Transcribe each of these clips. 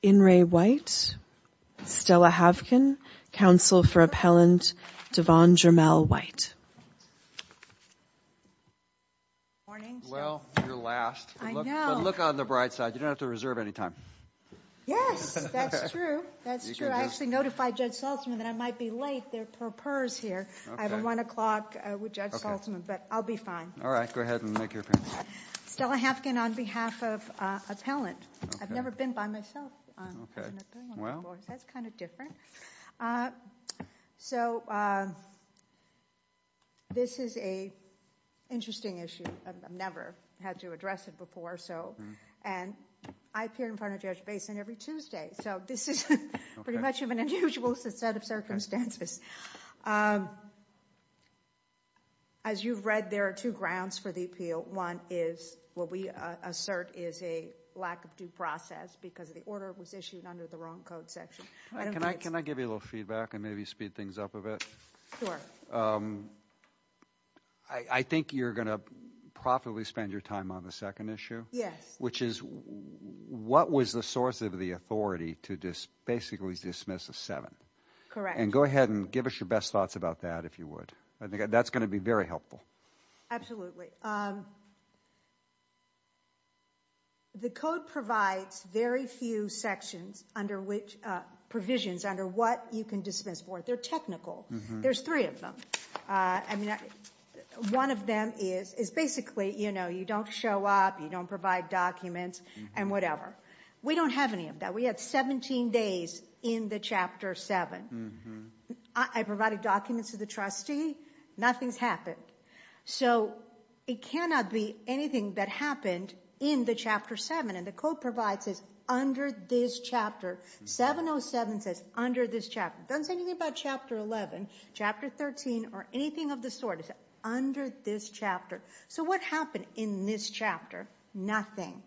In re White, Stella Havkin, counsel for appellant Devon Jermell White. Well, you're last, but look on the bright side. You don't have to reserve any time. Yes, that's true. That's true. I actually notified Judge Saltzman that I might be late. I have a one o'clock with Judge Saltzman, but I'll be fine. All right. Go ahead and make your appearance. Stella Havkin on behalf of appellant. I've never been by myself. Well, that's kind of different. So this is a interesting issue. I've never had to address it before. So and I appear in front of Judge Basin every Tuesday. So this is pretty much of an unusual set of circumstances. As you've read, there are two grounds for the appeal. One is what we assert is a lack of due process because the order was issued under the wrong code section. Can I can I give you a little feedback and maybe speed things up a bit? I think you're going to profitably spend your time on the second issue. Yes. Which is what was the source of the authority to just basically dismiss a seven. Correct. And go ahead and give us your best thoughts about that, if you would. That's going to be very helpful. Absolutely. The code provides very few sections under which provisions under what you can dismiss for. They're technical. There's three of them. I mean, one of them is is basically, you know, you don't show up, you don't provide documents and whatever. We don't have any of that. We had 17 days in the chapter seven. I provided documents to the trustee. Nothing's happened. So it cannot be anything that happened in the chapter seven. And the code provides is under this chapter. 707 says under this chapter, doesn't say anything about chapter 11, chapter 13 or anything of the sort under this chapter. So what happened in this chapter? Nothing.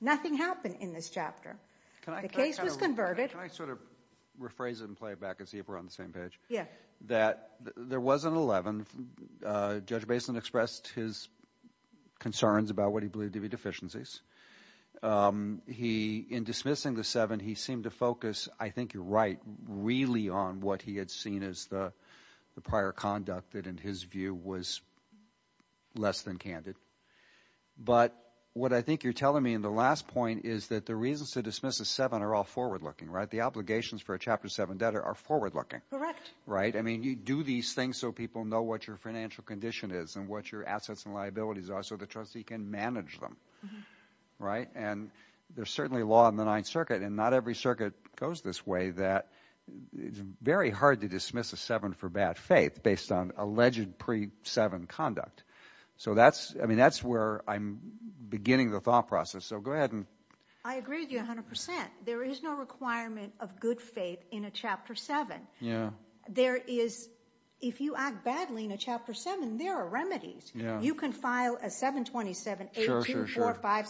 Nothing happened in this chapter. The case was converted. Can I sort of rephrase it and play it back and see if we're on the same page? Yeah. That there was an 11. Judge Basin expressed his concerns about what he believed to be deficiencies. He in dismissing the seven, he seemed to focus. I think you're right, really, on what he had seen as the prior conduct that in his view was less than candid. But what I think you're telling me in the last point is that the reasons to dismiss a seven are all forward looking. Right. The obligations for a chapter seven debtor are forward looking. Correct. Right. I mean, you do these things so people know what your financial condition is and what your assets and liabilities are. So the trustee can manage them. Right. And there's certainly a law in the Ninth Circuit and not every circuit goes this way. That is very hard to dismiss a seven for bad faith based on alleged pre seven conduct. So that's I mean, that's where I'm beginning the thought process. So go ahead. And I agree with you 100 percent. There is no requirement of good faith in a chapter seven. Yeah, there is. If you act badly in a chapter seven, there are remedies. You can file a seven. Twenty seven. Sure. Sure. Five.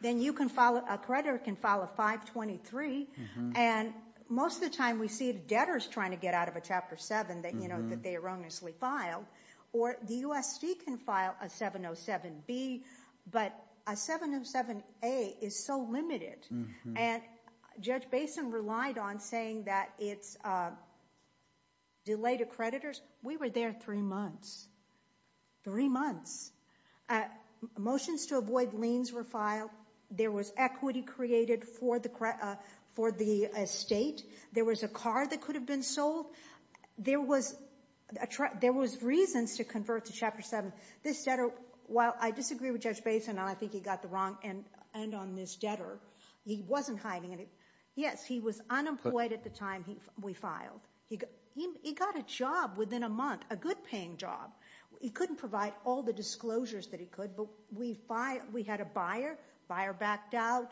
Then you can file a creditor can file a five. Twenty three. And most of the time we see debtors trying to get out of a chapter seven that, you know, that they erroneously filed or the U.S. can file a 707 B, but a 707 A is so limited. And Judge Basin relied on saying that it's a delay to creditors. We were there three months. Three months. Motions to avoid liens were filed. There was equity created for the for the state. There was a car that could have been sold. There was a truck. There was reasons to convert to chapter seven. This said, oh, well, I disagree with Judge Basin. I think he got the wrong end. And on this debtor, he wasn't hiding it. Yes, he was unemployed at the time we filed. He got a job within a month. A good paying job. He couldn't provide all the disclosures that he could. But we fight. We had a buyer buyer backed out.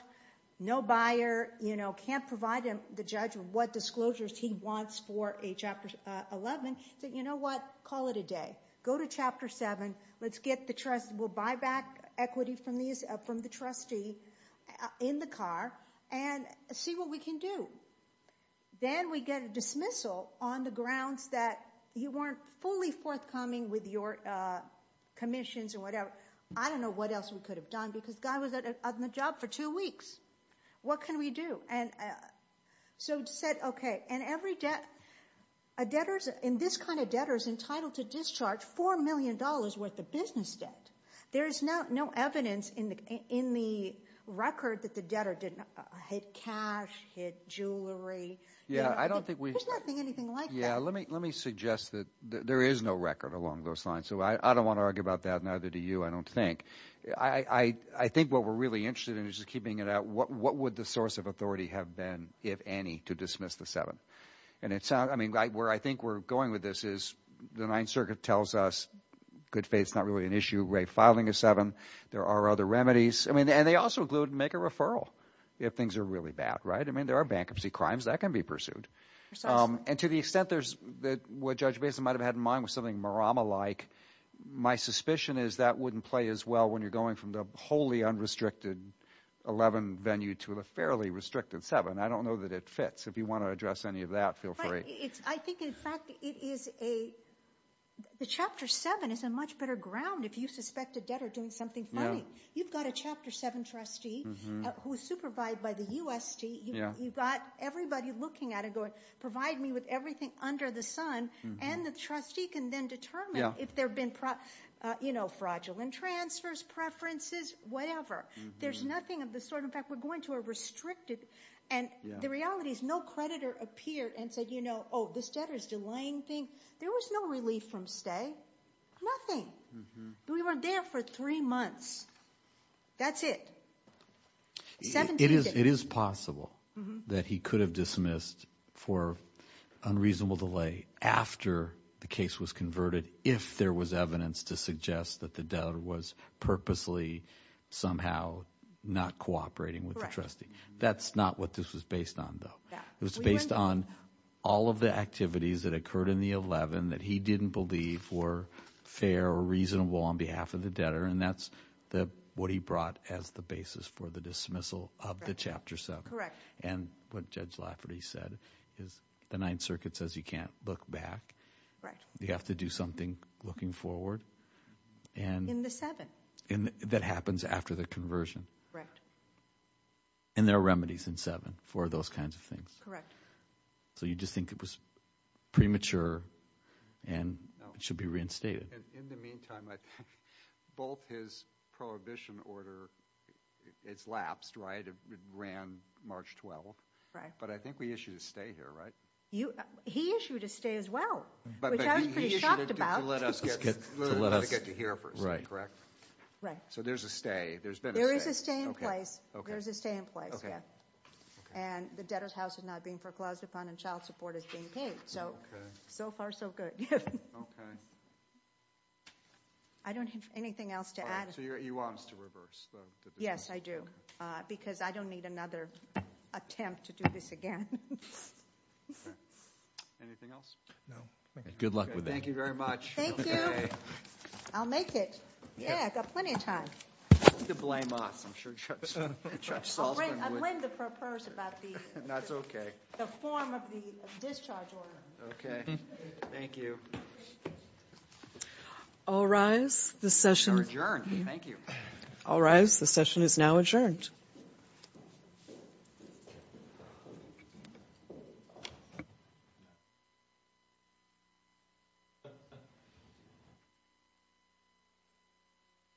No buyer. You know, can't provide him the judge of what disclosures he wants for a chapter 11. You know what? Call it a day. Go to chapter seven. Let's get the trust. We'll buy back equity from these from the trustee in the car and see what we can do. Then we get a dismissal on the grounds that you weren't fully forthcoming with your commissions or whatever. I don't know what else we could have done because I was at the job for two weeks. What can we do? And so said, OK, and every debt debtors in this kind of debtors entitled to discharge four million dollars worth of business debt. There is no no evidence in the in the record that the debtor didn't hit cash, hit jewelry. Yeah, I don't think we think anything like. Yeah. Let me let me suggest that there is no record along those lines. So I don't want to argue about that. Neither do you, I don't think. I think what we're really interested in is keeping it out. What what would the source of authority have been, if any, to dismiss the seven? And it's I mean, where I think we're going with this is the Ninth Circuit tells us good faith is not really an issue. Ray, filing a seven. There are other remedies. I mean, and they also include make a referral if things are really bad. Right. I mean, there are bankruptcy crimes that can be pursued. And to the extent there's that what Judge Mason might have had in mind was something Marama like. My suspicion is that wouldn't play as well when you're going from the wholly unrestricted 11 venue to a fairly restricted seven. I don't know that it fits. If you want to address any of that, feel free. It's I think, in fact, it is a the chapter seven is a much better ground. If you suspect a debtor doing something funny, you've got a chapter seven trustee who is supervised by the USD. You've got everybody looking at it, going provide me with everything under the sun. And the trustee can then determine if there have been, you know, fraudulent transfers, preferences, whatever. There's nothing of the sort. In fact, we're going to a restricted. And the reality is no creditor appeared and said, you know, oh, this debtor's delaying thing. There was no relief from stay. Nothing. We weren't there for three months. That's it. It is it is possible that he could have dismissed for unreasonable delay after the case was converted, if there was evidence to suggest that the debtor was purposely somehow not cooperating with the trustee. That's not what this was based on, though. It was based on all of the activities that occurred in the 11 that he didn't believe were fair or reasonable on behalf of the debtor. And that's what he brought as the basis for the dismissal of the chapter seven. Correct. And what Judge Lafferty said is the Ninth Circuit says you can't look back. You have to do something looking forward. And in the seven. And that happens after the conversion. Correct. And there are remedies in seven for those kinds of things. Correct. So you just think it was premature and should be reinstated. In the meantime, I think both his prohibition order. It's lapsed. Right. It ran March 12th. Right. But I think we issued a stay here. Right. You. He issued a stay as well. But I was pretty shocked about it. Let us get to let us get to hear. Right. Correct. Right. So there's a stay. There's been there is a stay in place. There's a stay in place. And the debtor's house is not being foreclosed upon and child support is being paid. So so far, so good. OK. I don't have anything else to add. So you want us to reverse the. Yes, I do. Because I don't need another attempt to do this again. Anything else? No. Good luck with that. Thank you very much. Thank you. I'll make it. Yeah. I've got plenty of time to blame us. I'm sure Chuck. Chuck. I blame the purpose about the. OK. The form of the discharge. OK. Thank you. All rise. The session adjourned. Thank you. All rise. The session is now adjourned.